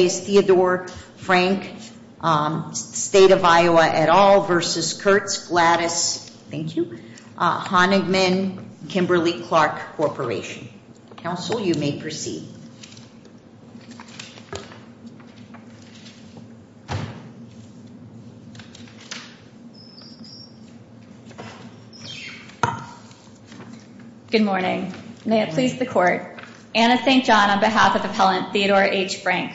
Good morning. May it please the court. Anna St. John on behalf of the appellant Theodore H. Frank.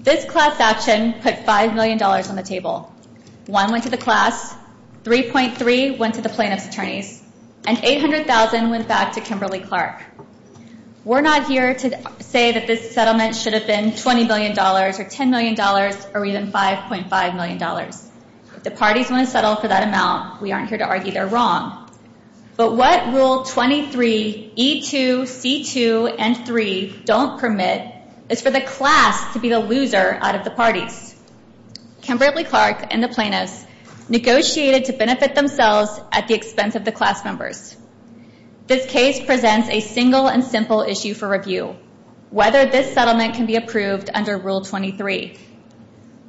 This class action put $5 million on the table. One went to the class, 3.3 went to the plaintiff's attorneys, and $800,000 went back to Kimberly-Clark. We're not here to say that this settlement should have been $20 million or $10 million or even $5.5 million. If the parties want to settle for that amount, we aren't here to argue they're wrong. But what Rule 23, E2, C2, and 3 don't permit is for the class to be the loser out of the parties. Kimberly-Clark and the plaintiffs negotiated to benefit themselves at the expense of the class members. This case presents a single and simple issue for review, whether this settlement can be approved under Rule 23.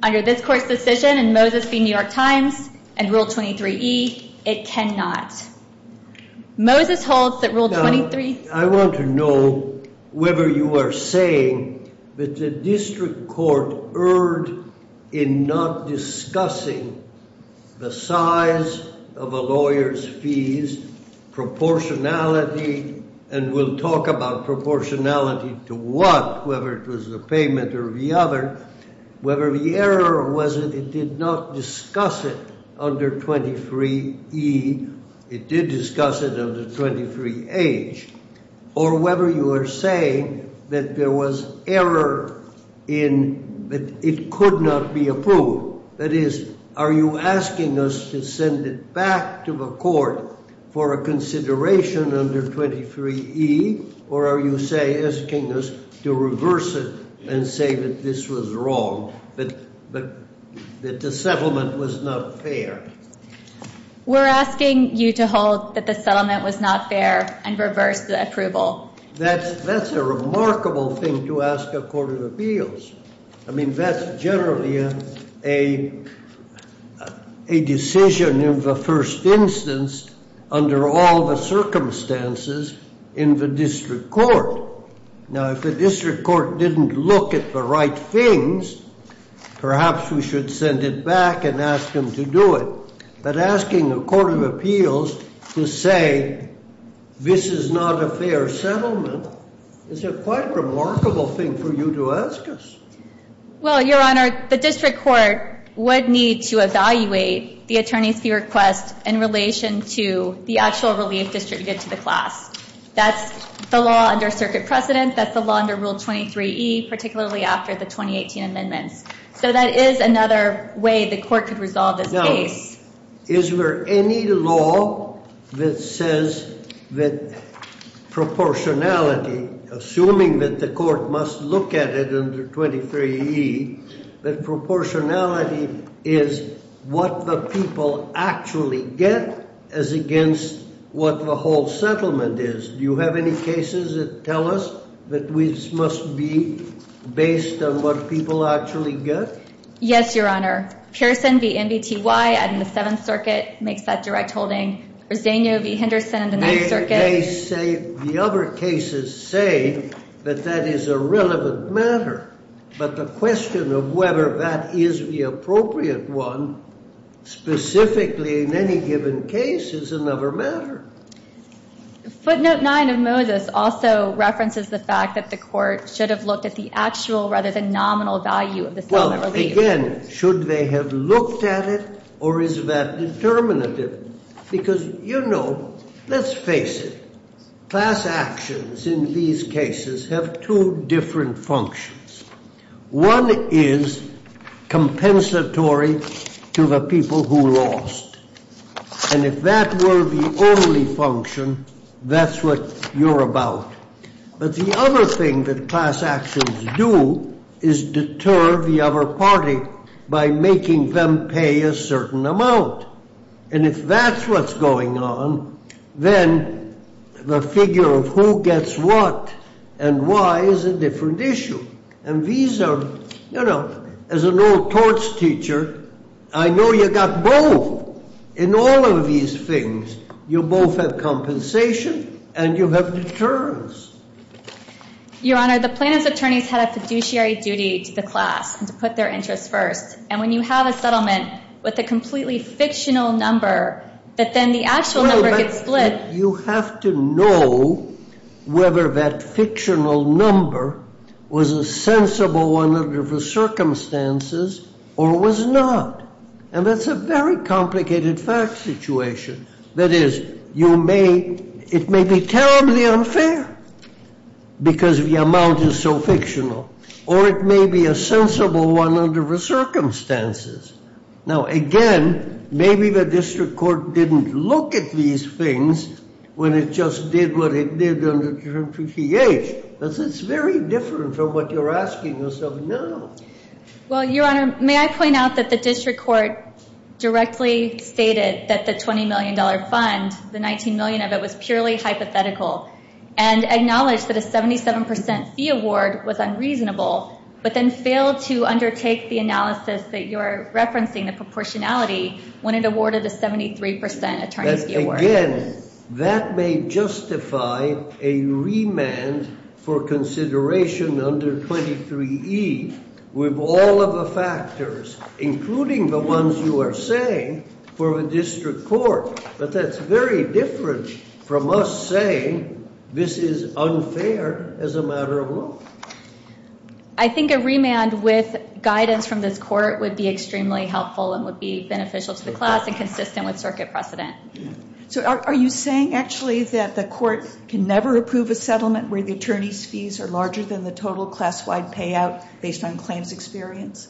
Under this court's decision and Moses v. New York Times and Rule 23, E, it cannot. Moses holds that Rule 23... I want to know whether you are saying that the district court erred in not discussing the size of a lawyer's fees, proportionality. And we'll talk about proportionality to what, whether it was the payment or the other. Whether the error was that it did not discuss it under 23E, it did discuss it under 23H. Or whether you are saying that there was error in that it could not be approved. That is, are you asking us to send it back to the court for a consideration under 23E? Or are you asking us to reverse it and say that this was wrong, that the settlement was not fair? We're asking you to hold that the settlement was not fair and reverse the approval. That's a remarkable thing to ask a court of appeals. I mean, that's generally a decision of the first instance under all the circumstances in the district court. Now, if the district court didn't look at the right things, perhaps we should send it back and ask them to do it. But asking a court of appeals to say this is not a fair settlement is a quite remarkable thing for you to ask us. Well, Your Honor, the district court would need to evaluate the attorney's fee request in relation to the actual relief district to get to the class. That's the law under circuit precedent. That's the law under Rule 23E, particularly after the 2018 amendments. So that is another way the court could resolve this case. Now, is there any law that says that proportionality, assuming that the court must look at it under 23E, that proportionality is what the people actually get as against what the whole settlement is? Do you have any cases that tell us that this must be based on what people actually get? Yes, Your Honor. Pearson v. MBTY in the Seventh Circuit makes that direct holding. Roseño v. Henderson in the Ninth Circuit. The other cases say that that is a relevant matter. But the question of whether that is the appropriate one, specifically in any given case, is another matter. Footnote 9 of Moses also references the fact that the court should have looked at the actual rather than nominal value of the settlement relief. Well, again, should they have looked at it or is that determinative? Because, you know, let's face it. Class actions in these cases have two different functions. One is compensatory to the people who lost. And if that were the only function, that's what you're about. But the other thing that class actions do is deter the other party by making them pay a certain amount. And if that's what's going on, then the figure of who gets what and why is a different issue. And these are, you know, as an old torts teacher, I know you got both. In all of these things, you both have compensation and you have deterrence. Your Honor, the plaintiff's attorneys had a fiduciary duty to the class and to put their interests first. And when you have a settlement with a completely fictional number, that then the actual number gets split. You have to know whether that fictional number was a sensible one under the circumstances or was not. And that's a very complicated fact situation. That is, it may be terribly unfair because the amount is so fictional, or it may be a sensible one under the circumstances. Now, again, maybe the district court didn't look at these things when it just did what it did under Term 53H. But it's very different from what you're asking us of now. Well, Your Honor, may I point out that the district court directly stated that the $20 million fund, the $19 million of it, was purely hypothetical. And acknowledged that a 77% fee award was unreasonable, but then failed to undertake the analysis that you're referencing, the proportionality, when it awarded a 73% attorney's fee award. Again, that may justify a remand for consideration under 23E with all of the factors, including the ones you are saying, for the district court. But that's very different from us saying this is unfair as a matter of law. I think a remand with guidance from this court would be extremely helpful and would be beneficial to the class and consistent with circuit precedent. So are you saying, actually, that the court can never approve a settlement where the attorney's fees are larger than the total class-wide payout based on claims experience?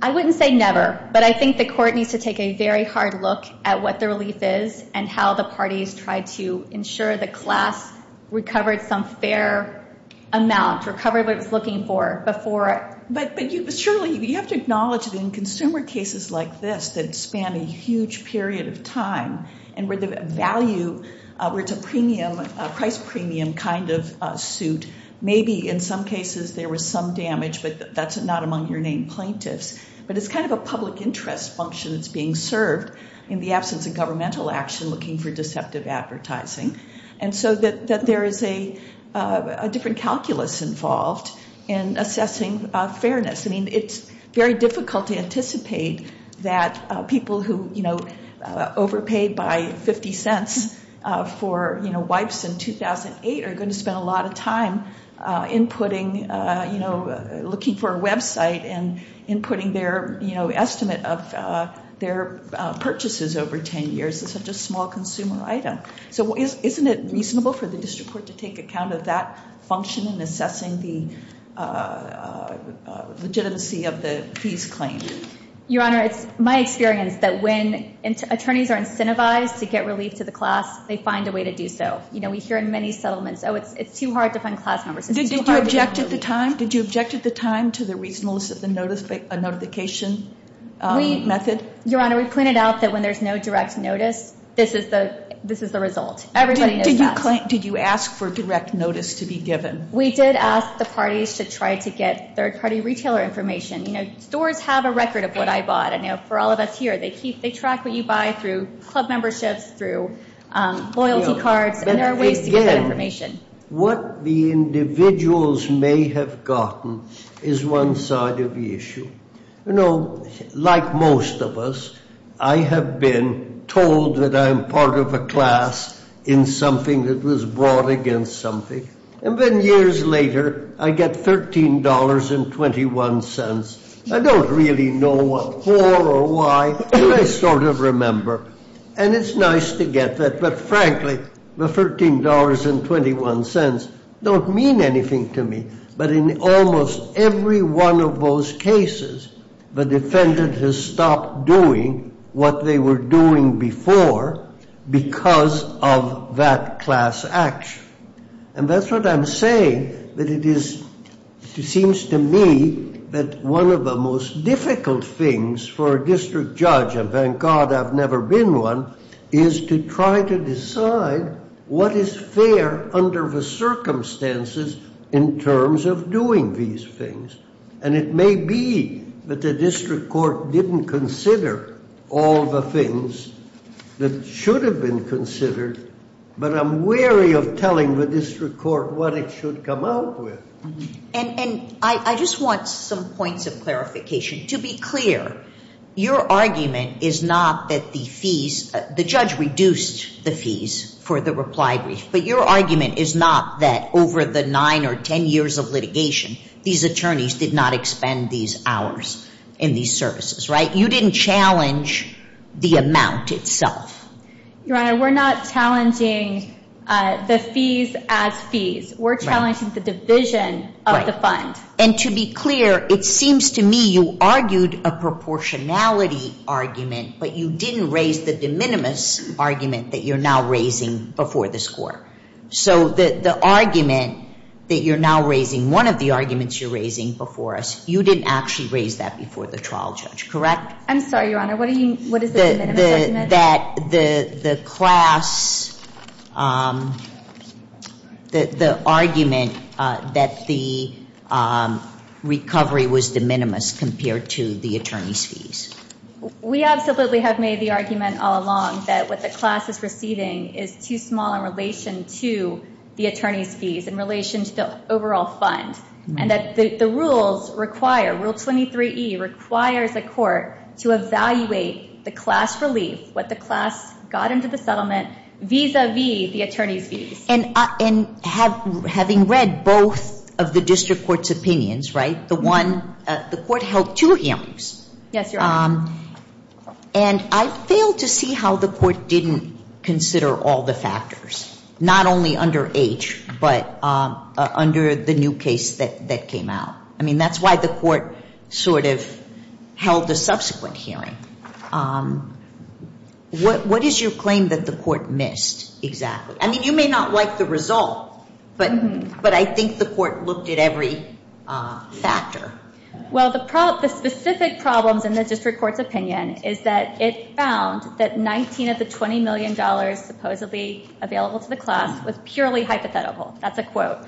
I wouldn't say never, but I think the court needs to take a very hard look at what the relief is, and how the parties tried to ensure the class recovered some fair amount, recovered what it was looking for before- But surely, you have to acknowledge that in consumer cases like this that span a huge period of time, and where the value, where it's a premium, a price premium kind of suit, maybe in some cases there was some damage, but that's not among your named plaintiffs. But it's kind of a public interest function that's being served in the absence of governmental action looking for deceptive advertising. And so there is a different calculus involved in assessing fairness. I mean, it's very difficult to anticipate that people who, you know, overpaid by 50 cents for, you know, wipes in 2008 are going to spend a lot of time inputting, you know, looking for a website and inputting their, you know, estimate of their purchases over 10 years. It's such a small consumer item. So isn't it reasonable for the district court to take account of that function in assessing the legitimacy of the fees claim? Your Honor, it's my experience that when attorneys are incentivized to get relief to the class, they find a way to do so. You know, we hear in many settlements, oh, it's too hard to find class members. Did you object at the time to the reasonableness of the notification method? Your Honor, we pointed out that when there's no direct notice, this is the result. Everybody knows that. Did you ask for direct notice to be given? We did ask the parties to try to get third-party retailer information. You know, stores have a record of what I bought. And, you know, for all of us here, they track what you buy through club memberships, through loyalty cards, and there are ways to get that information. What the individuals may have gotten is one side of the issue. You know, like most of us, I have been told that I'm part of a class in something that was brought against something. And then years later, I get $13.21. I don't really know what for or why. I sort of remember. And it's nice to get that. But, frankly, the $13.21 don't mean anything to me. But in almost every one of those cases, the defendant has stopped doing what they were doing before because of that class action. And that's what I'm saying, that it seems to me that one of the most difficult things for a district judge, and thank God I've never been one, is to try to decide what is fair under the circumstances in terms of doing these things. And it may be that the district court didn't consider all the things that should have been considered. But I'm wary of telling the district court what it should come out with. And I just want some points of clarification. To be clear, your argument is not that the fees, the judge reduced the fees for the reply brief. But your argument is not that over the 9 or 10 years of litigation, these attorneys did not expend these hours in these services, right? You didn't challenge the amount itself. Your Honor, we're not challenging the fees as fees. We're challenging the division of the fund. And to be clear, it seems to me you argued a proportionality argument, but you didn't raise the de minimis argument that you're now raising before this court. So the argument that you're now raising, one of the arguments you're raising before us, you didn't actually raise that before the trial judge, correct? I'm sorry, Your Honor. What is the de minimis argument? That the class, the argument that the recovery was de minimis compared to the attorney's fees. We absolutely have made the argument all along that what the class is receiving is too small in relation to the attorney's fees, in relation to the overall fund. And that the rules require, Rule 23E requires the court to evaluate the class relief, what the class got into the settlement, vis-a-vis the attorney's fees. And having read both of the district court's opinions, right, the one, the court held two hearings. Yes, Your Honor. And I failed to see how the court didn't consider all the factors, not only under H, but under the new case that came out. I mean, that's why the court sort of held the subsequent hearing. What is your claim that the court missed exactly? I mean, you may not like the result, but I think the court looked at every factor. Well, the specific problems in the district court's opinion is that it found that 19 of the $20 million supposedly available to the class was purely hypothetical. That's a quote.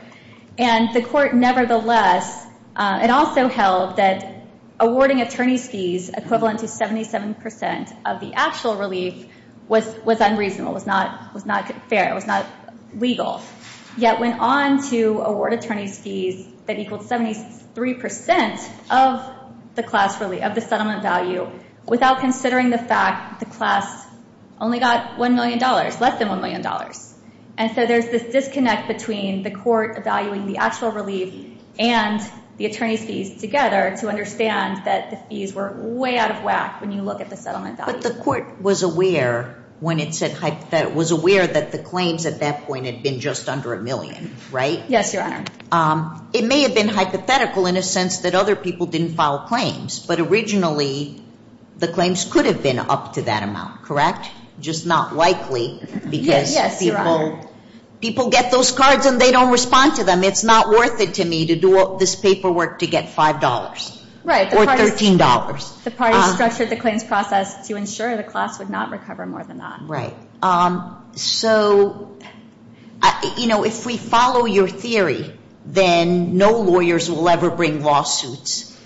And the court, nevertheless, it also held that awarding attorney's fees equivalent to 77% of the actual relief was unreasonable, was not fair, was not legal. Yet went on to award attorney's fees that equaled 73% of the class relief, of the settlement value, without considering the fact the class only got $1 million, less than $1 million. And so there's this disconnect between the court evaluating the actual relief and the attorney's fees together to understand that the fees were way out of whack when you look at the settlement value. But the court was aware when it said hypothetical, was aware that the claims at that point had been just under $1 million, right? Yes, Your Honor. It may have been hypothetical in a sense that other people didn't file claims, but originally the claims could have been up to that amount, correct? Just not likely because people get those cards and they don't respond to them. It's not worth it to me to do all this paperwork to get $5 or $13. The parties structured the claims process to ensure the class would not recover more than that. So if we follow your theory, then no lawyers will ever bring lawsuits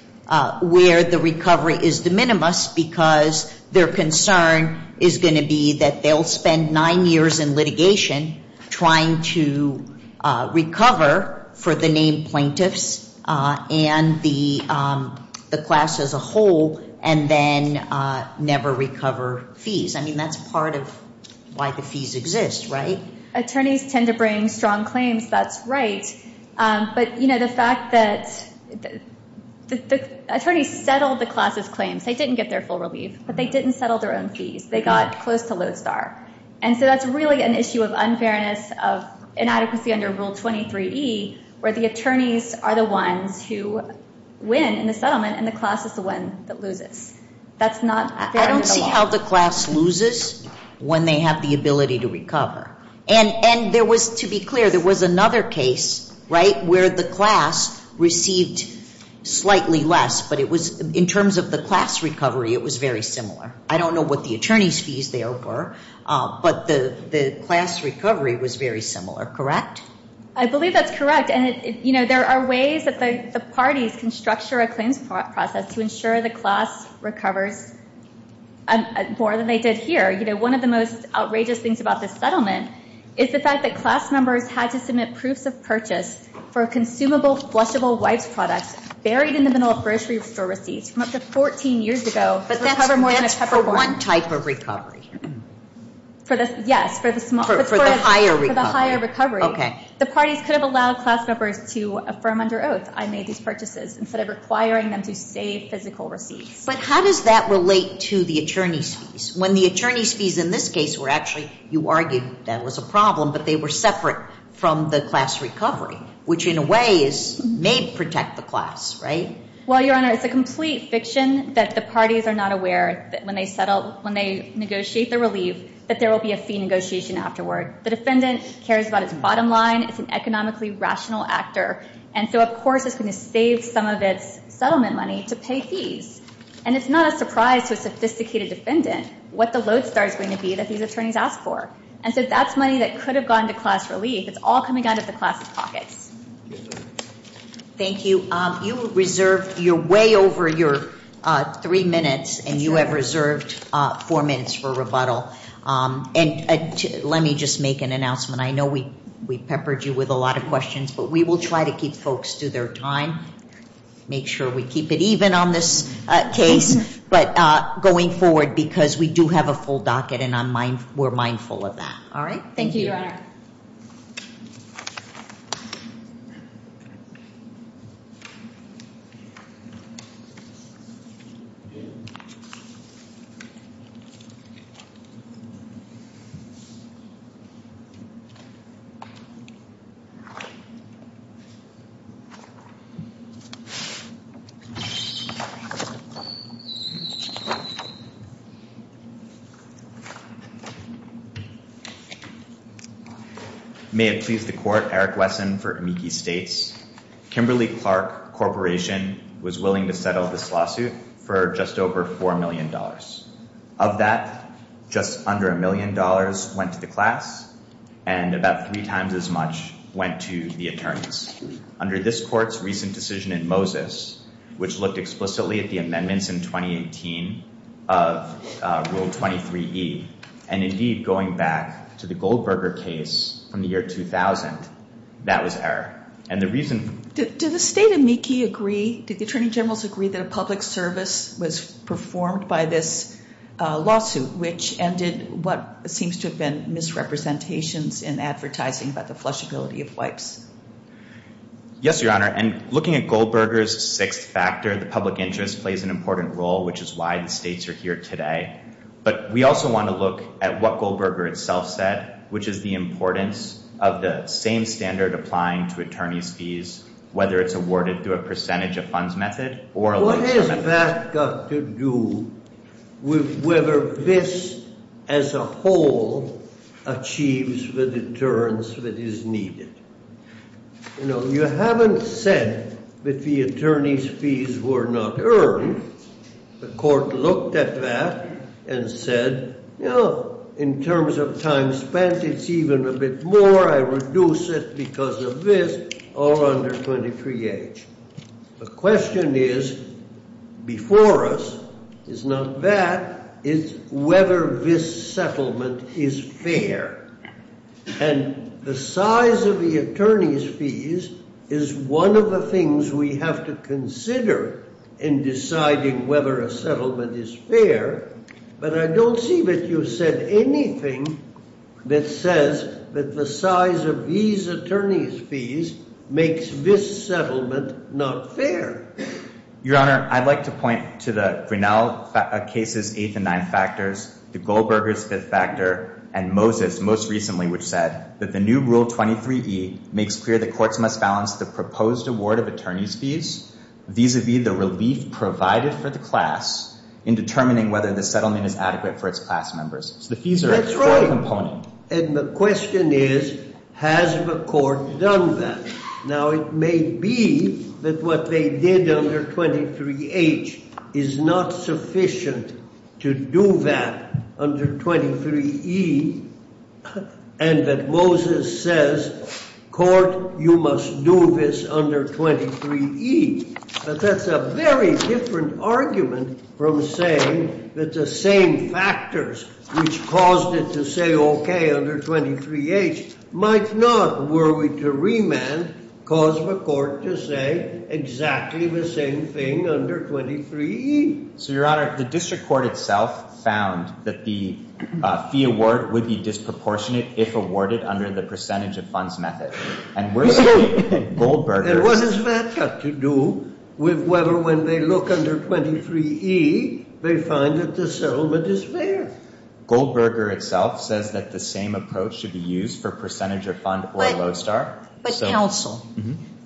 where the recovery is de minimis because their concern is going to be that they'll spend nine years in litigation trying to recover for the named plaintiffs. And the class as a whole and then never recover fees. I mean, that's part of why the fees exist, right? Attorneys tend to bring strong claims. That's right. But, you know, the fact that the attorneys settled the class's claims, they didn't get their full relief, but they didn't settle their own fees. They got close to lodestar. And so that's really an issue of unfairness, of inadequacy under Rule 23E where the attorneys are the ones who win in the settlement and the class is the one that loses. That's not fair in the law. I don't see how the class loses when they have the ability to recover. And there was, to be clear, there was another case, right, where the class received slightly less, but it was in terms of the class recovery, it was very similar. I don't know what the attorney's fees there were, but the class recovery was very similar, correct? I believe that's correct. And, you know, there are ways that the parties can structure a claims process to ensure the class recovers more than they did here. You know, one of the most outrageous things about this settlement is the fact that class members had to submit proofs of purchase for consumable, flushable wipes products buried in the middle of grocery store receipts from up to 14 years ago to recover more than a peppercorn. But that's for one type of recovery. Yes, for the small. For the higher recovery. For the higher recovery. Okay. The parties could have allowed class members to affirm under oath, I made these purchases, instead of requiring them to say physical receipts. But how does that relate to the attorney's fees? When the attorney's fees in this case were actually, you argued that was a problem, but they were separate from the class recovery, which in a way may protect the class, right? Well, Your Honor, it's a complete fiction that the parties are not aware that when they negotiate the relief, that there will be a fee negotiation afterward. The defendant cares about its bottom line. It's an economically rational actor. And so, of course, it's going to save some of its settlement money to pay fees. And it's not a surprise to a sophisticated defendant what the lodestar is going to be that these attorneys ask for. And so that's money that could have gone to class relief. It's all coming out of the class' pockets. Thank you. You reserved your way over your three minutes, and you have reserved four minutes for rebuttal. And let me just make an announcement. I know we peppered you with a lot of questions, but we will try to keep folks to their time. Make sure we keep it even on this case, but going forward, because we do have a full docket, and we're mindful of that. All right? Thank you, Your Honor. May it please the court, Eric Wesson for Amici States. Kimberly Clark Corporation was willing to settle this lawsuit for just over $4 million. Of that, just under $1 million went to the class, and about three times as much went to the attorneys. Under this court's recent decision in Moses, which looked explicitly at the amendments in 2018 of Rule 23E, and indeed going back to the Goldberger case from the year 2000, that was error. And the reason – Did the State of Amici agree, did the attorney generals agree that a public service was performed by this lawsuit, which ended what seems to have been misrepresentations in advertising about the flushability of wipes? Yes, Your Honor, and looking at Goldberger's sixth factor, the public interest plays an important role, which is why the states are here today. But we also want to look at what Goldberger itself said, which is the importance of the same standard applying to attorney's fees, whether it's awarded through a percentage of funds method or – What has that got to do with whether this as a whole achieves the deterrence that is needed? You know, you haven't said that the attorney's fees were not earned. The court looked at that and said, you know, in terms of time spent, it's even a bit more. I reduce it because of this or under 23H. The question is, before us, is not that, it's whether this settlement is fair. And the size of the attorney's fees is one of the things we have to consider in deciding whether a settlement is fair. But I don't see that you said anything that says that the size of these attorney's fees makes this settlement not fair. Your Honor, I'd like to point to the Grinnell case's eighth and ninth factors, the Goldberger's fifth factor, and Moses most recently, which said that the new Rule 23E makes clear the courts must balance the proposed award of attorney's fees vis-à-vis the relief provided for the class in determining whether the settlement is adequate for its class members. So the fees are a core component. That's right. And the question is, has the court done that? Now, it may be that what they did under 23H is not sufficient to do that under 23E, and that Moses says, court, you must do this under 23E. But that's a very different argument from saying that the same factors which caused it to say, okay, under 23H, might not, were we to remand, cause the court to say exactly the same thing under 23E. So, Your Honor, the district court itself found that the fee award would be disproportionate if awarded under the percentage of funds method. And we're saying Goldberger... And what does that have to do with whether when they look under 23E, they find that the settlement is fair? Goldberger itself says that the same approach should be used for percentage of fund or low star. But, counsel,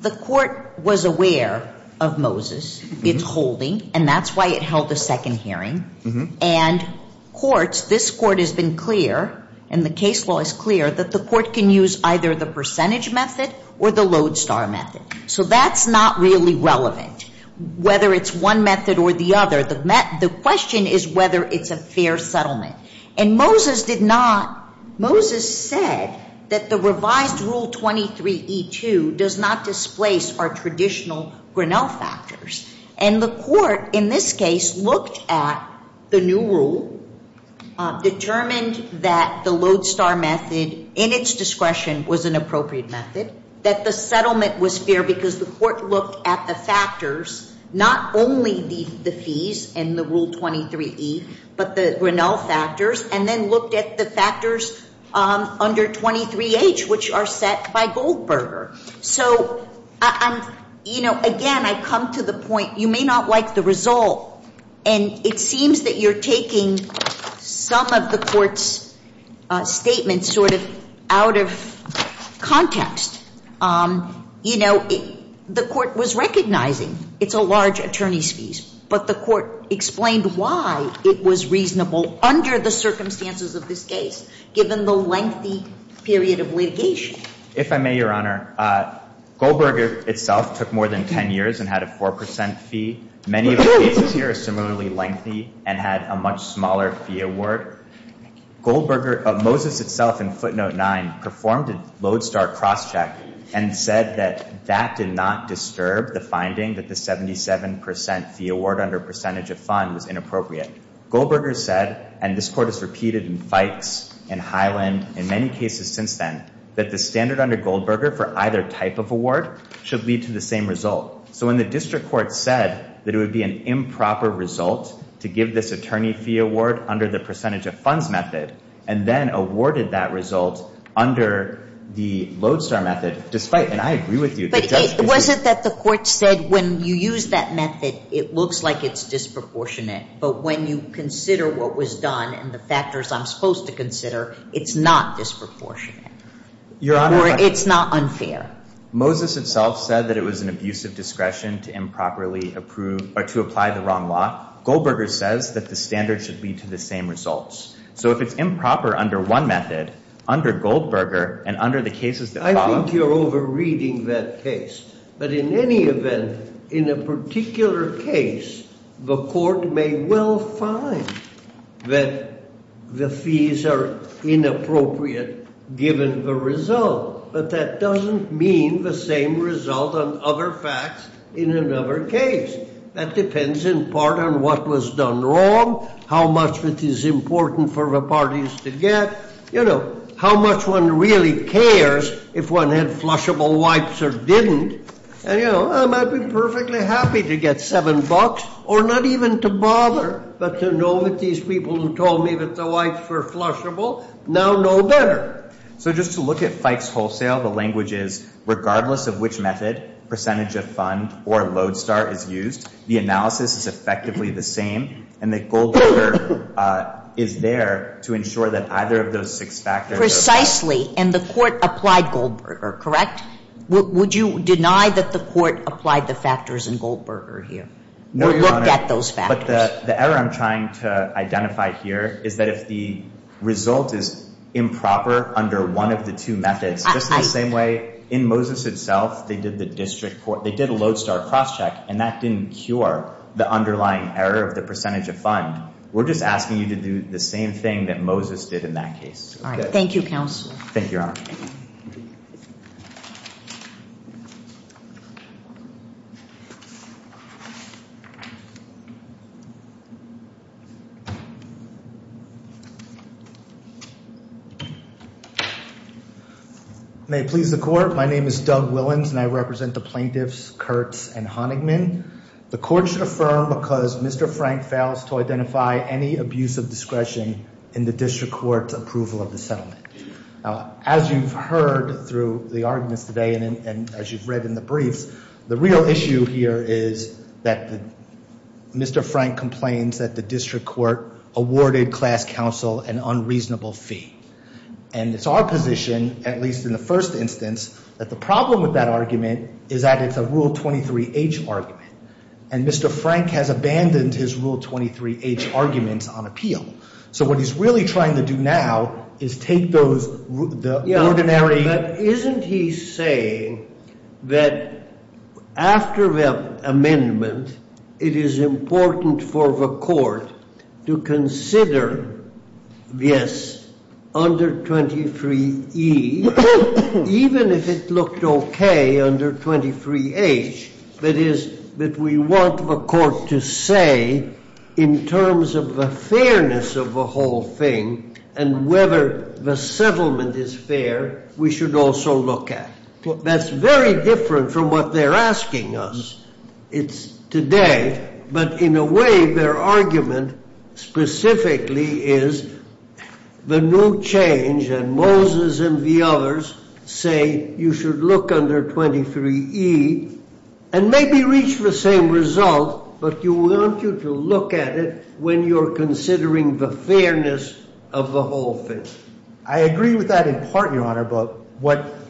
the court was aware of Moses, its holding, and that's why it held a second hearing. And courts, this court has been clear, and the case law is clear, that the court can use either the percentage method or the low star method. So that's not really relevant, whether it's one method or the other. The question is whether it's a fair settlement. And Moses did not... Moses said that the revised Rule 23E2 does not displace our traditional Grinnell factors. And the court, in this case, looked at the new rule, determined that the low star method in its discretion was an appropriate method, that the settlement was fair because the court looked at the factors, not only the fees in the Rule 23E, but the Grinnell factors, and then looked at the factors under 23H, which are set by Goldberger. So, you know, again, I come to the point, you may not like the result, and it seems that you're taking some of the court's statements sort of out of context. You know, the court was recognizing it's a large attorney's fees, but the court explained why it was reasonable under the circumstances of this case, given the lengthy period of litigation. If I may, Your Honor, Goldberger itself took more than 10 years and had a 4 percent fee. Many of the cases here are similarly lengthy and had a much smaller fee award. Goldberger, Moses itself in footnote 9, performed a low star cross check and said that that did not disturb the finding that the 77 percent fee award under percentage of fund was inappropriate. Goldberger said, and this court has repeated in Fikes, in Highland, in many cases since then, that the standard under Goldberger for either type of award should lead to the same result. So when the district court said that it would be an improper result to give this attorney fee award under the percentage of funds method and then awarded that result under the low star method, despite, and I agree with you. But was it that the court said when you use that method, it looks like it's disproportionate, but when you consider what was done and the factors I'm supposed to consider, it's not disproportionate or it's not unfair? Moses itself said that it was an abusive discretion to improperly approve or to apply the wrong law. Goldberger says that the standard should lead to the same results. So if it's improper under one method, under Goldberger and under the cases that follow. I think you're overreading that case. But in any event, in a particular case, the court may well find that the fees are inappropriate given the result, but that doesn't mean the same result on other facts in another case. That depends in part on what was done wrong, how much it is important for the parties to get, you know, how much one really cares if one had flushable wipes or didn't. And, you know, I'd be perfectly happy to get $7 or not even to bother, but to know that these people who told me that the wipes were flushable now know better. So just to look at Fikes Wholesale, the language is regardless of which method, percentage of fund or Lodestar is used, the analysis is effectively the same and that Goldberger is there to ensure that either of those six factors. Precisely. And the court applied Goldberger, correct? Would you deny that the court applied the factors in Goldberger here? No, Your Honor. Or looked at those factors? But the error I'm trying to identify here is that if the result is improper under one of the two methods, just the same way in Moses itself they did the district court, they did a Lodestar crosscheck and that didn't cure the underlying error of the percentage of fund. We're just asking you to do the same thing that Moses did in that case. All right. Thank you, counsel. Thank you, Your Honor. May it please the court, my name is Doug Willans and I represent the plaintiffs Kurtz and Honigman. The court should affirm because Mr. Frank fails to identify any abuse of discretion in the district court's approval of the settlement. As you've heard through the arguments today and as you've read in the briefs, the real issue here is that Mr. Frank complains that the district court awarded class counsel an unreasonable fee. And it's our position, at least in the first instance, that the problem with that argument is that it's a Rule 23H argument. And Mr. Frank has abandoned his Rule 23H arguments on appeal. So what he's really trying to do now is take those ordinary- under 23E, even if it looked okay under 23H, that is, that we want the court to say in terms of the fairness of the whole thing and whether the settlement is fair, we should also look at. That's very different from what they're asking us today, but in a way their argument specifically is the new change and Moses and the others say you should look under 23E and maybe reach the same result, but you want to look at it when you're considering the fairness of the whole thing. I agree with that in part, Your Honor, but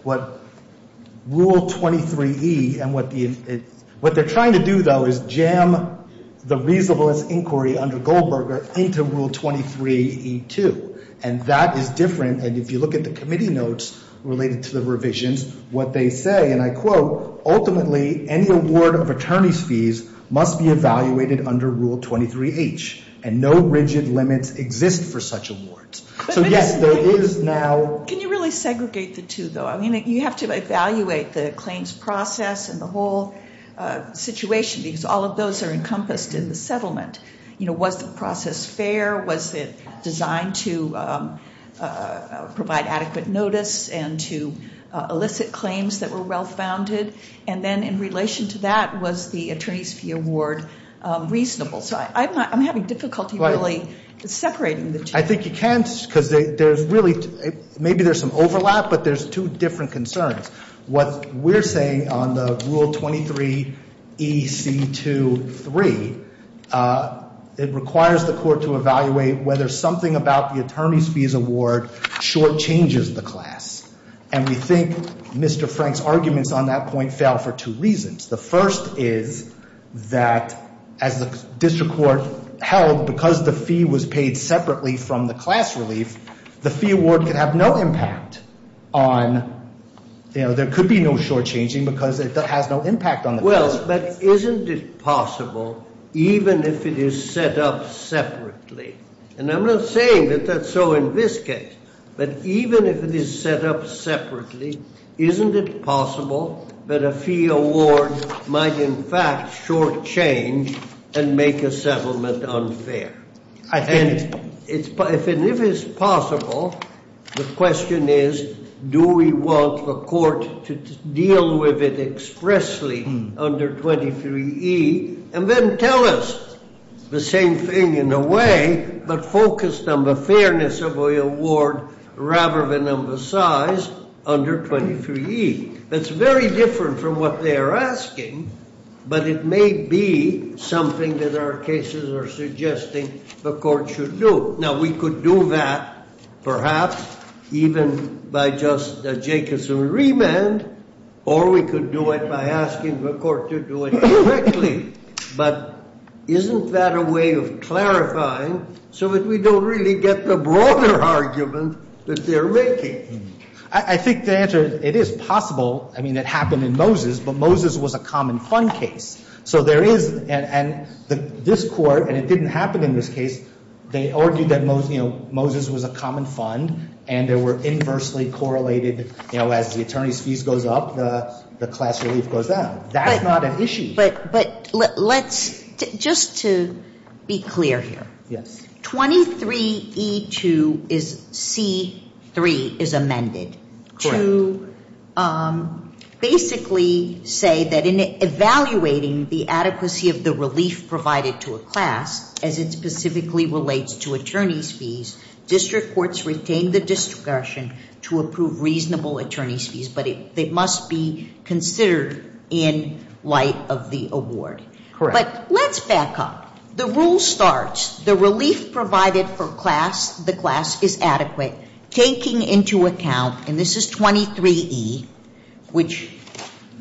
what Rule 23E and what they're trying to do, though, is jam the reasonableness inquiry under Goldberger into Rule 23E2, and that is different. And if you look at the committee notes related to the revisions, what they say, and I quote, ultimately any award of attorney's fees must be evaluated under Rule 23H, and no rigid limits exist for such awards. So yes, there is now- Can you really segregate the two, though? I mean, you have to evaluate the claims process and the whole situation because all of those are encompassed in the settlement. You know, was the process fair? Was it designed to provide adequate notice and to elicit claims that were well-founded? And then in relation to that, was the attorney's fee award reasonable? So I'm having difficulty really separating the two. I think you can because there's really – maybe there's some overlap, but there's two different concerns. What we're saying on the Rule 23EC23, it requires the court to evaluate whether something about the attorney's fees award shortchanges the class. And we think Mr. Frank's arguments on that point fail for two reasons. The first is that as the district court held, because the fee was paid separately from the class relief, the fee award could have no impact on – you know, there could be no shortchanging because it has no impact on the class relief. Well, but isn't it possible, even if it is set up separately – and I'm not saying that that's so in this case – but even if it is set up separately, isn't it possible that a fee award might in fact shortchange and make a settlement unfair? And if it is possible, the question is, do we want the court to deal with it expressly under 23E and then tell us the same thing in a way but focused on the fairness of the award rather than on the size under 23E? That's very different from what they are asking, but it may be something that our cases are suggesting the court should do. Now, we could do that, perhaps, even by just a Jacobson remand, or we could do it by asking the court to do it directly. But isn't that a way of clarifying so that we don't really get the broader argument that they're making? I think the answer is it is possible. I mean, it happened in Moses, but Moses was a common fund case. So there is – and this court, and it didn't happen in this case, they argued that Moses was a common fund, and they were inversely correlated, you know, as the attorney's fees goes up, the class relief goes down. That's not an issue. But let's – just to be clear here. Yes. 23E2 is – C3 is amended to basically say that in evaluating the adequacy of the relief provided to a class, as it specifically relates to attorney's fees, district courts retain the discretion to approve reasonable attorney's fees, but it must be considered in light of the award. Correct. But let's back up. The rule starts, the relief provided for class, the class, is adequate, taking into account – and this is 23E, which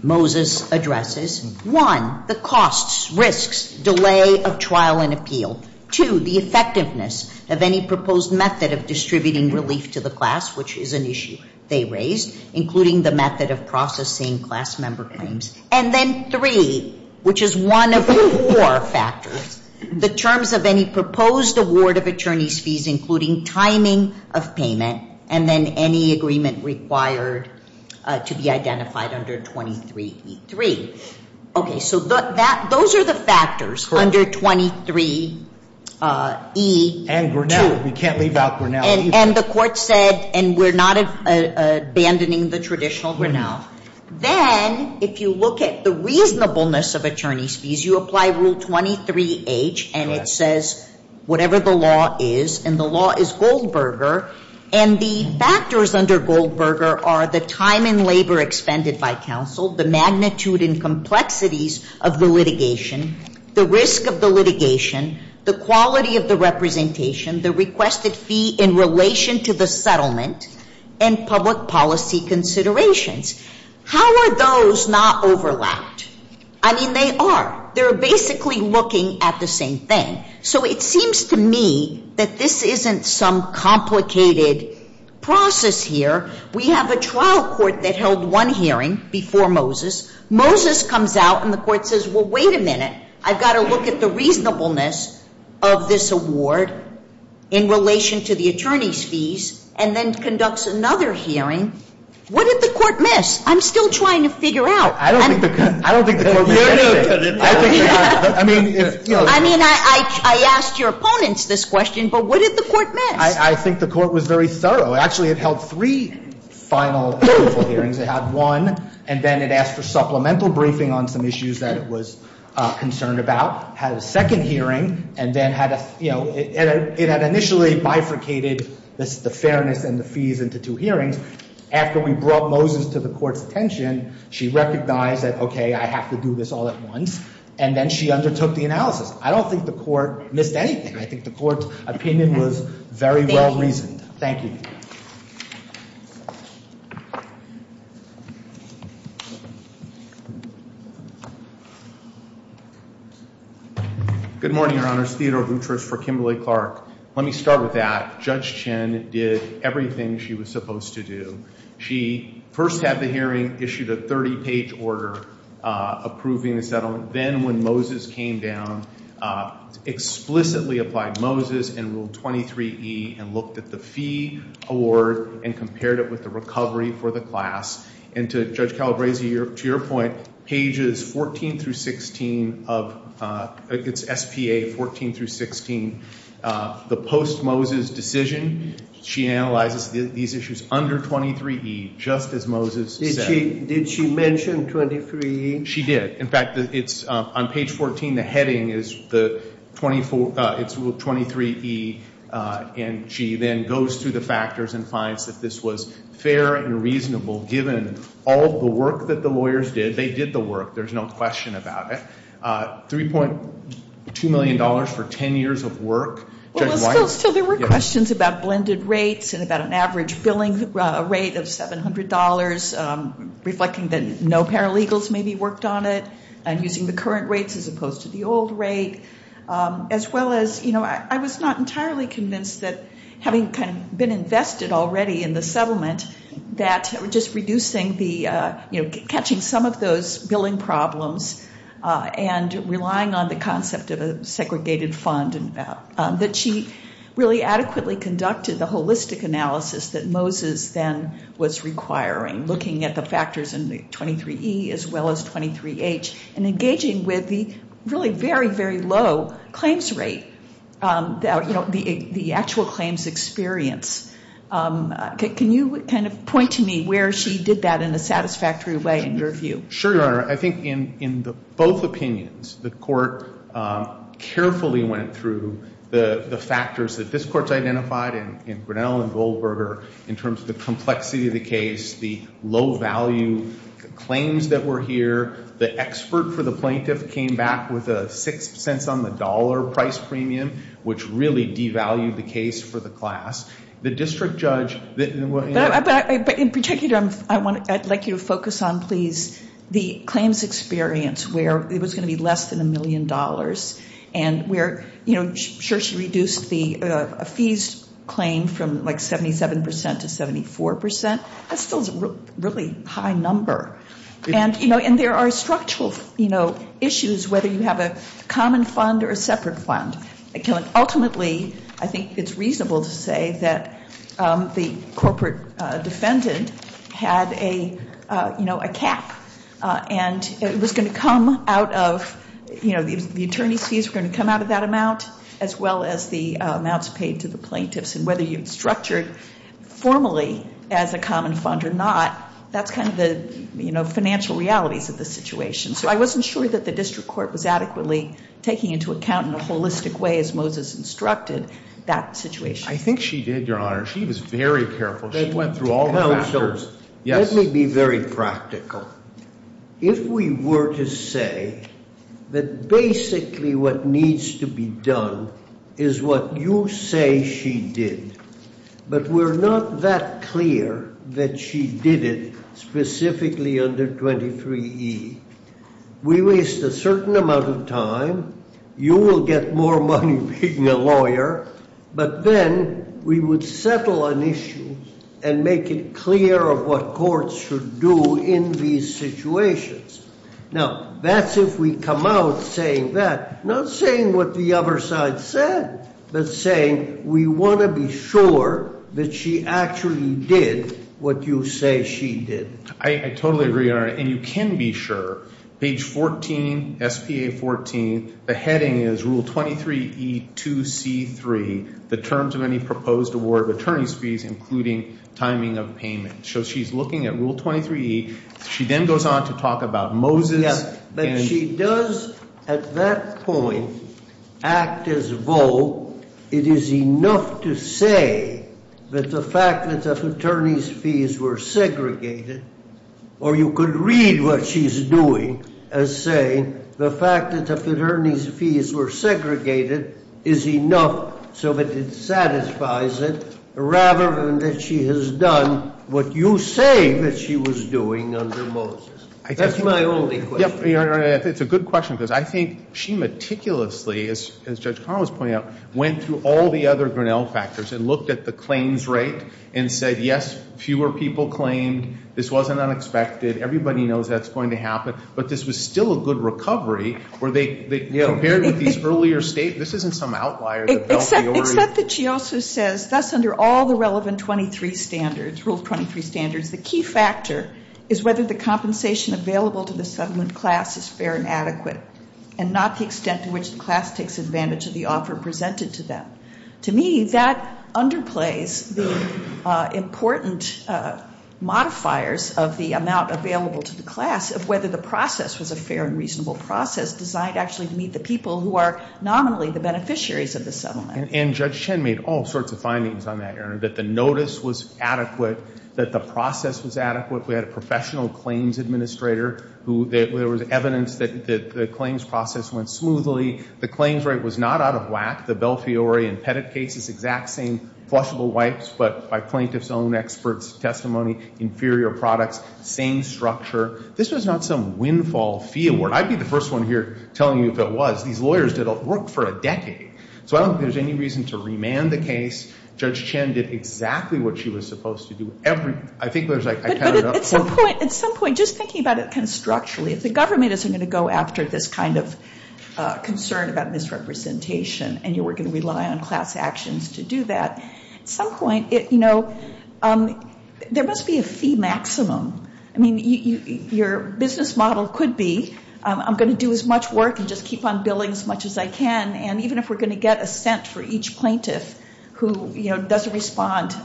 Moses addresses – one, the costs, risks, delay of trial and appeal, two, the effectiveness of any proposed method of distributing relief to the class, which is an issue they raised, including the method of processing class member claims, and then three, which is one of four factors, the terms of any proposed award of attorney's fees, including timing of payment, and then any agreement required to be identified under 23E3. Okay. So those are the factors under 23E2. And Grinnell. We can't leave out Grinnell either. And the court said, and we're not abandoning the traditional Grinnell. Then, if you look at the reasonableness of attorney's fees, you apply Rule 23H, and it says whatever the law is, and the law is Goldberger, and the factors under Goldberger are the time and labor expended by counsel, the magnitude and complexities of the litigation, the risk of the litigation, the quality of the representation, the requested fee in relation to the settlement, and public policy considerations. How are those not overlapped? I mean, they are. They're basically looking at the same thing. So it seems to me that this isn't some complicated process here. We have a trial court that held one hearing before Moses. Moses comes out, and the court says, well, wait a minute. I've got to look at the reasonableness of this award in relation to the attorney's fees, and then conducts another hearing. What did the court miss? I'm still trying to figure out. I don't think the court missed anything. I mean, if, you know. I mean, I asked your opponents this question, but what did the court miss? I think the court was very thorough. Actually, it held three final hearings. It had one, and then it asked for supplemental briefing on some issues that it was concerned about. It had a second hearing, and then had a, you know. It had initially bifurcated the fairness and the fees into two hearings. After we brought Moses to the court's attention, she recognized that, okay, I have to do this all at once, and then she undertook the analysis. I don't think the court missed anything. I think the court's opinion was very well reasoned. Thank you. Good morning, Your Honors. Theodore Boutrous for Kimberly-Clark. Let me start with that. Judge Chin did everything she was supposed to do. She first had the hearing, issued a 30-page order approving the settlement. Then, when Moses came down, explicitly applied Moses and ruled 23E, and looked at the fee award and compared it with the recovery for the class. And to Judge Calabresi, to your point, pages 14 through 16 of, it's SPA 14 through 16. The post-Moses decision, she analyzes these issues under 23E, just as Moses said. Did she mention 23E? She did. In fact, on page 14, the heading is 23E, and she then goes through the factors and finds that this was fair and reasonable, given all the work that the lawyers did. They did the work. There's no question about it. $3.2 million for 10 years of work. Well, still, there were questions about blended rates and about an average billing rate of $700, reflecting that no paralegals maybe worked on it, and using the current rates as opposed to the old rate, as well as, you know, I was not entirely convinced that, having kind of been invested already in the settlement, that just reducing the, you know, catching some of those billing problems and relying on the concept of a segregated fund, that she really adequately conducted the holistic analysis that Moses then was requiring, looking at the factors in the 23E as well as 23H, and engaging with the really very, very low claims rate, you know, the actual claims experience. Can you kind of point to me where she did that in a satisfactory way, in your view? Sure, Your Honor. I think in both opinions, the court carefully went through the factors that this court's identified in Grinnell and Goldberger in terms of the complexity of the case, the low value claims that were here. The expert for the plaintiff came back with a $0.06 on the dollar price premium, which really devalued the case for the class. The district judge, you know— But in particular, I'd like you to focus on, please, the claims experience, where it was going to be less than a million dollars, and where, you know, sure she reduced the fees claim from like 77% to 74%. That's still a really high number. And, you know, there are structural, you know, issues, whether you have a common fund or a separate fund. Ultimately, I think it's reasonable to say that the corporate defendant had a, you know, a cap. And it was going to come out of, you know, the attorney's fees were going to come out of that amount, as well as the amounts paid to the plaintiffs. And whether you structured formally as a common fund or not, that's kind of the, you know, financial realities of the situation. So I wasn't sure that the district court was adequately taking into account in a holistic way, as Moses instructed, that situation. I think she did, Your Honor. She was very careful. She went through all the factors. Let me be very practical. If we were to say that basically what needs to be done is what you say she did, but we're not that clear that she did it specifically under 23E. We waste a certain amount of time. You will get more money being a lawyer. But then we would settle an issue and make it clear of what courts should do in these situations. Now, that's if we come out saying that, not saying what the other side said, but saying we want to be sure that she actually did what you say she did. I totally agree, Your Honor. And you can be sure. Page 14, SPA 14, the heading is Rule 23E2C3, the terms of any proposed award of attorney's fees, including timing of payment. So she's looking at Rule 23E. She then goes on to talk about Moses. But she does, at that point, act as though it is enough to say that the fact that the attorney's fees were segregated, or you could read what she's doing as saying the fact that the attorney's fees were segregated is enough so that it satisfies it rather than that she has done what you say that she was doing under Moses. That's my only question. It's a good question, because I think she meticulously, as Judge Carlin was pointing out, went through all the other Grinnell factors and looked at the claims rate and said, yes, fewer people claimed. This wasn't unexpected. Everybody knows that's going to happen. But this was still a good recovery. Compared with these earlier statements, this isn't some outlier. Except that she also says, thus, under all the relevant 23 standards, Rule 23 standards, the key factor is whether the compensation available to the settlement class is fair and adequate and not the extent to which the class takes advantage of the offer presented to them. To me, that underplays the important modifiers of the amount available to the class of whether the process was a fair and reasonable process designed actually to meet the people who are nominally the beneficiaries of the settlement. And Judge Chen made all sorts of findings on that, Your Honor, that the notice was adequate, that the process was adequate. We had a professional claims administrator who there was evidence that the claims process went smoothly. The claims rate was not out of whack. The Belfiori and Pettit cases, exact same flushable wipes, but by plaintiffs' own experts' testimony, inferior products, same structure. This was not some windfall fee award. I'd be the first one here telling you if it was. These lawyers did work for a decade. So I don't think there's any reason to remand the case. Judge Chen did exactly what she was supposed to do. I think there's, like, I kind of- But at some point, just thinking about it kind of structurally, if the government isn't going to go after this kind of concern about misrepresentation and you were going to rely on class actions to do that, at some point, you know, there must be a fee maximum. I mean, your business model could be I'm going to do as much work and just keep on billing as much as I can, and even if we're going to get a cent for each plaintiff who, you know, doesn't respond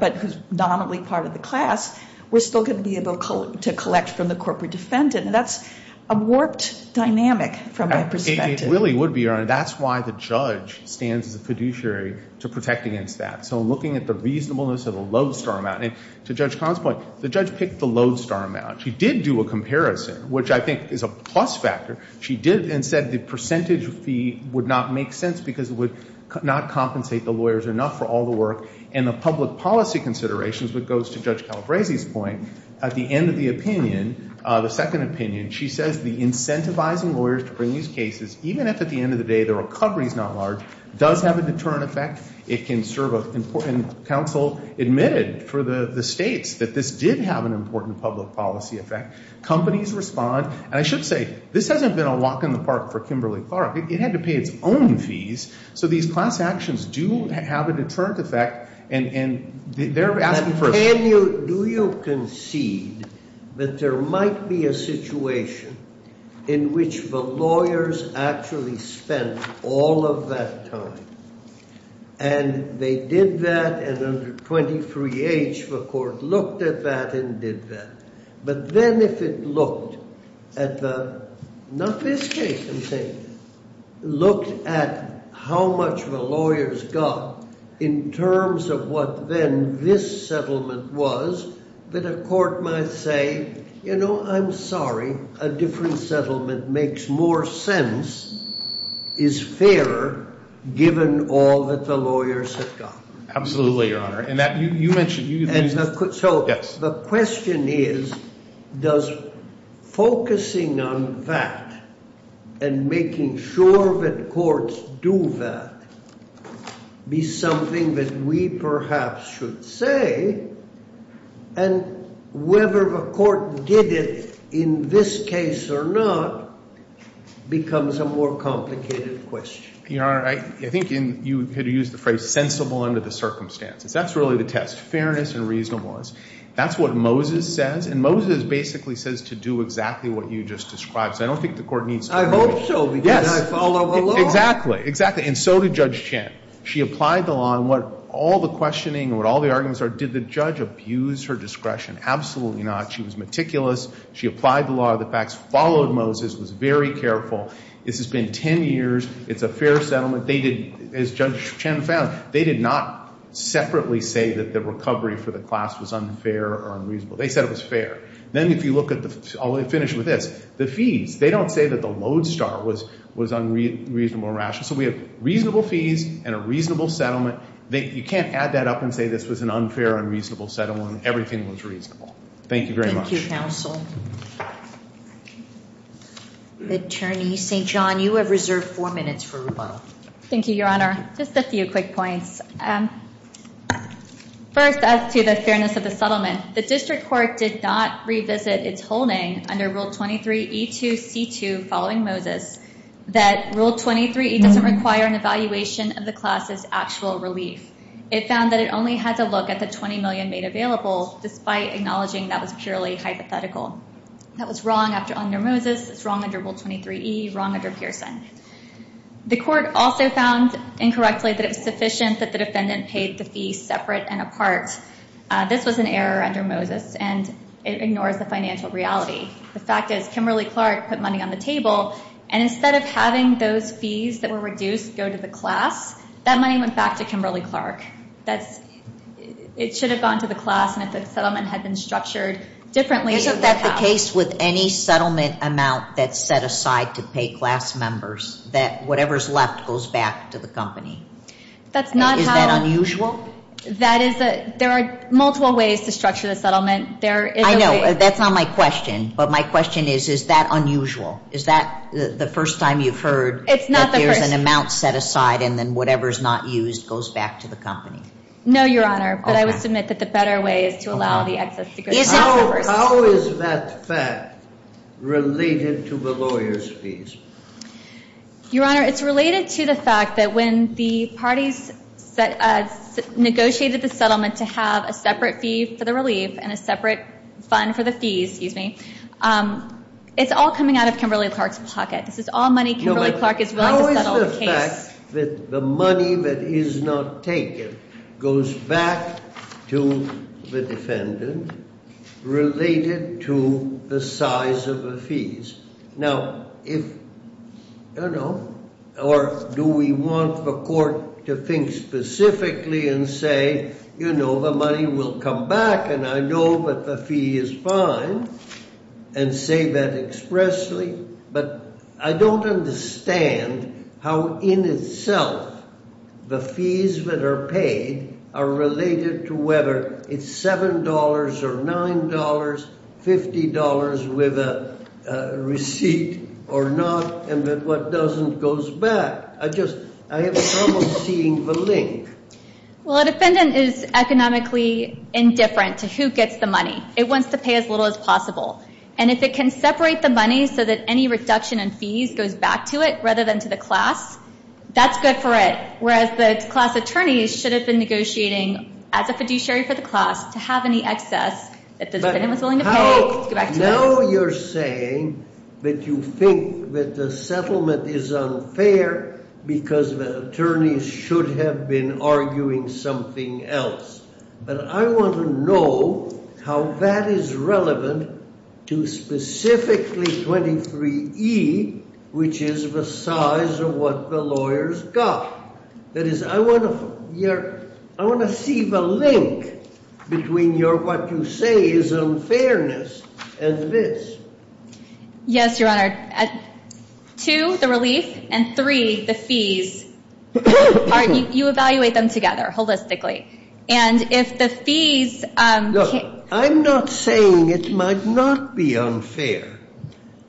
but who's nominally part of the class, we're still going to be able to collect from the corporate defendant. And that's a warped dynamic from my perspective. It really would be, Your Honor. That's why the judge stands as a fiduciary to protect against that. So looking at the reasonableness of the lodestar amount, and to Judge Conn's point, the judge picked the lodestar amount. She did do a comparison, which I think is a plus factor. She did and said the percentage fee would not make sense because it would not compensate the lawyers enough for all the work. And the public policy considerations, which goes to Judge Calabresi's point, at the end of the opinion, the second opinion, she says the incentivizing lawyers to bring these cases, even if at the end of the day the recovery is not large, does have a deterrent effect. It can serve an important counsel admitted for the states that this did have an important public policy effect. Companies respond. And I should say this hasn't been a walk in the park for Kimberly-Clark. It had to pay its own fees. So these class actions do have a deterrent effect. And they're asking for it. Do you concede that there might be a situation in which the lawyers actually spent all of that time and they did that and under 23H the court looked at that and did that. But then if it looked at the, not this case I'm saying, looked at how much the lawyers got in terms of what then this settlement was, that a court might say, you know, I'm sorry. A different settlement makes more sense, is fairer, given all that the lawyers have got. Absolutely, Your Honor. And that you mentioned. So the question is, does focusing on that and making sure that courts do that be something that we perhaps should say? And whether the court did it in this case or not becomes a more complicated question. Your Honor, I think you could use the phrase sensible under the circumstances. That's really the test, fairness and reasonableness. That's what Moses says. And Moses basically says to do exactly what you just described. So I don't think the court needs to rule. I hope so because I follow the law. Exactly. Exactly. And so did Judge Chen. She applied the law. And what all the questioning and what all the arguments are, did the judge abuse her discretion? Absolutely not. She was meticulous. She applied the law. The facts followed Moses, was very careful. This has been ten years. It's a fair settlement. As Judge Chen found, they did not separately say that the recovery for the class was unfair or unreasonable. They said it was fair. Then if you look at the, I'll finish with this, the fees. They don't say that the lodestar was unreasonable or rational. So we have reasonable fees and a reasonable settlement. You can't add that up and say this was an unfair, unreasonable settlement. Everything was reasonable. Thank you very much. Thank you, counsel. Attorney St. John, you have reserved four minutes for rebuttal. Thank you, Your Honor. Just a few quick points. First, as to the fairness of the settlement, the district court did not revisit its holding under Rule 23E2C2 following Moses that Rule 23E doesn't require an evaluation of the class's actual relief. It found that it only had to look at the $20 million made available, despite acknowledging that was purely hypothetical. That was wrong under Moses. It's wrong under Rule 23E, wrong under Pearson. The court also found, incorrectly, that it was sufficient that the defendant paid the fee separate and apart. This was an error under Moses, and it ignores the financial reality. The fact is, Kimberly-Clark put money on the table, and instead of having those fees that were reduced go to the class, that money went back to Kimberly-Clark. It should have gone to the class, and if the settlement had been structured differently, it would have. Isn't that the case with any settlement amount that's set aside to pay class members, that whatever's left goes back to the company? Is that unusual? There are multiple ways to structure the settlement. I know. That's not my question, but my question is, is that unusual? Is that the first time you've heard that there's an amount set aside and then whatever's not used goes back to the company? No, Your Honor, but I would submit that the better way is to allow the excess to go to class members. How is that fact related to the lawyers' fees? Your Honor, it's related to the fact that when the parties negotiated the settlement to have a separate fee for the relief and a separate fund for the fees, it's all coming out of Kimberly-Clark's pocket. This is all money Kimberly-Clark is willing to settle the case. The fact that the money that is not taken goes back to the defendant related to the size of the fees. Now, if, you know, or do we want the court to think specifically and say, you know, the money will come back and I know that the fee is fine, and say that expressly? But I don't understand how in itself the fees that are paid are related to whether it's $7 or $9, $50 with a receipt or not, and that what doesn't goes back. I just, I have trouble seeing the link. Well, a defendant is economically indifferent to who gets the money. It wants to pay as little as possible. And if it can separate the money so that any reduction in fees goes back to it rather than to the class, that's good for it. Whereas the class attorneys should have been negotiating as a fiduciary for the class to have any excess that the defendant was willing to pay to go back to it. Now you're saying that you think that the settlement is unfair because the attorneys should have been arguing something else. But I want to know how that is relevant to specifically 23E, which is the size of what the lawyers got. That is, I want to see the link between your what you say is unfairness and this. Yes, Your Honor. Two, the relief, and three, the fees. You evaluate them together holistically. And if the fees can't- Look, I'm not saying it might not be unfair.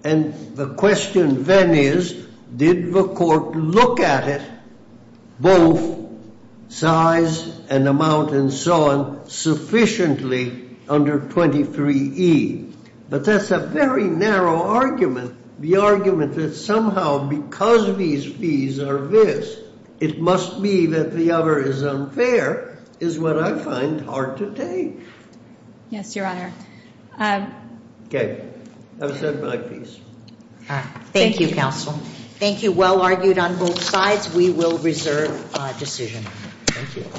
And the question then is, did the court look at it, both size and amount and so on, sufficiently under 23E? But that's a very narrow argument. The argument that somehow because these fees are this, it must be that the other is unfair is what I find hard to take. Yes, Your Honor. Okay. That was my piece. Thank you, counsel. Thank you. Well argued on both sides. We will reserve decision. Thank you.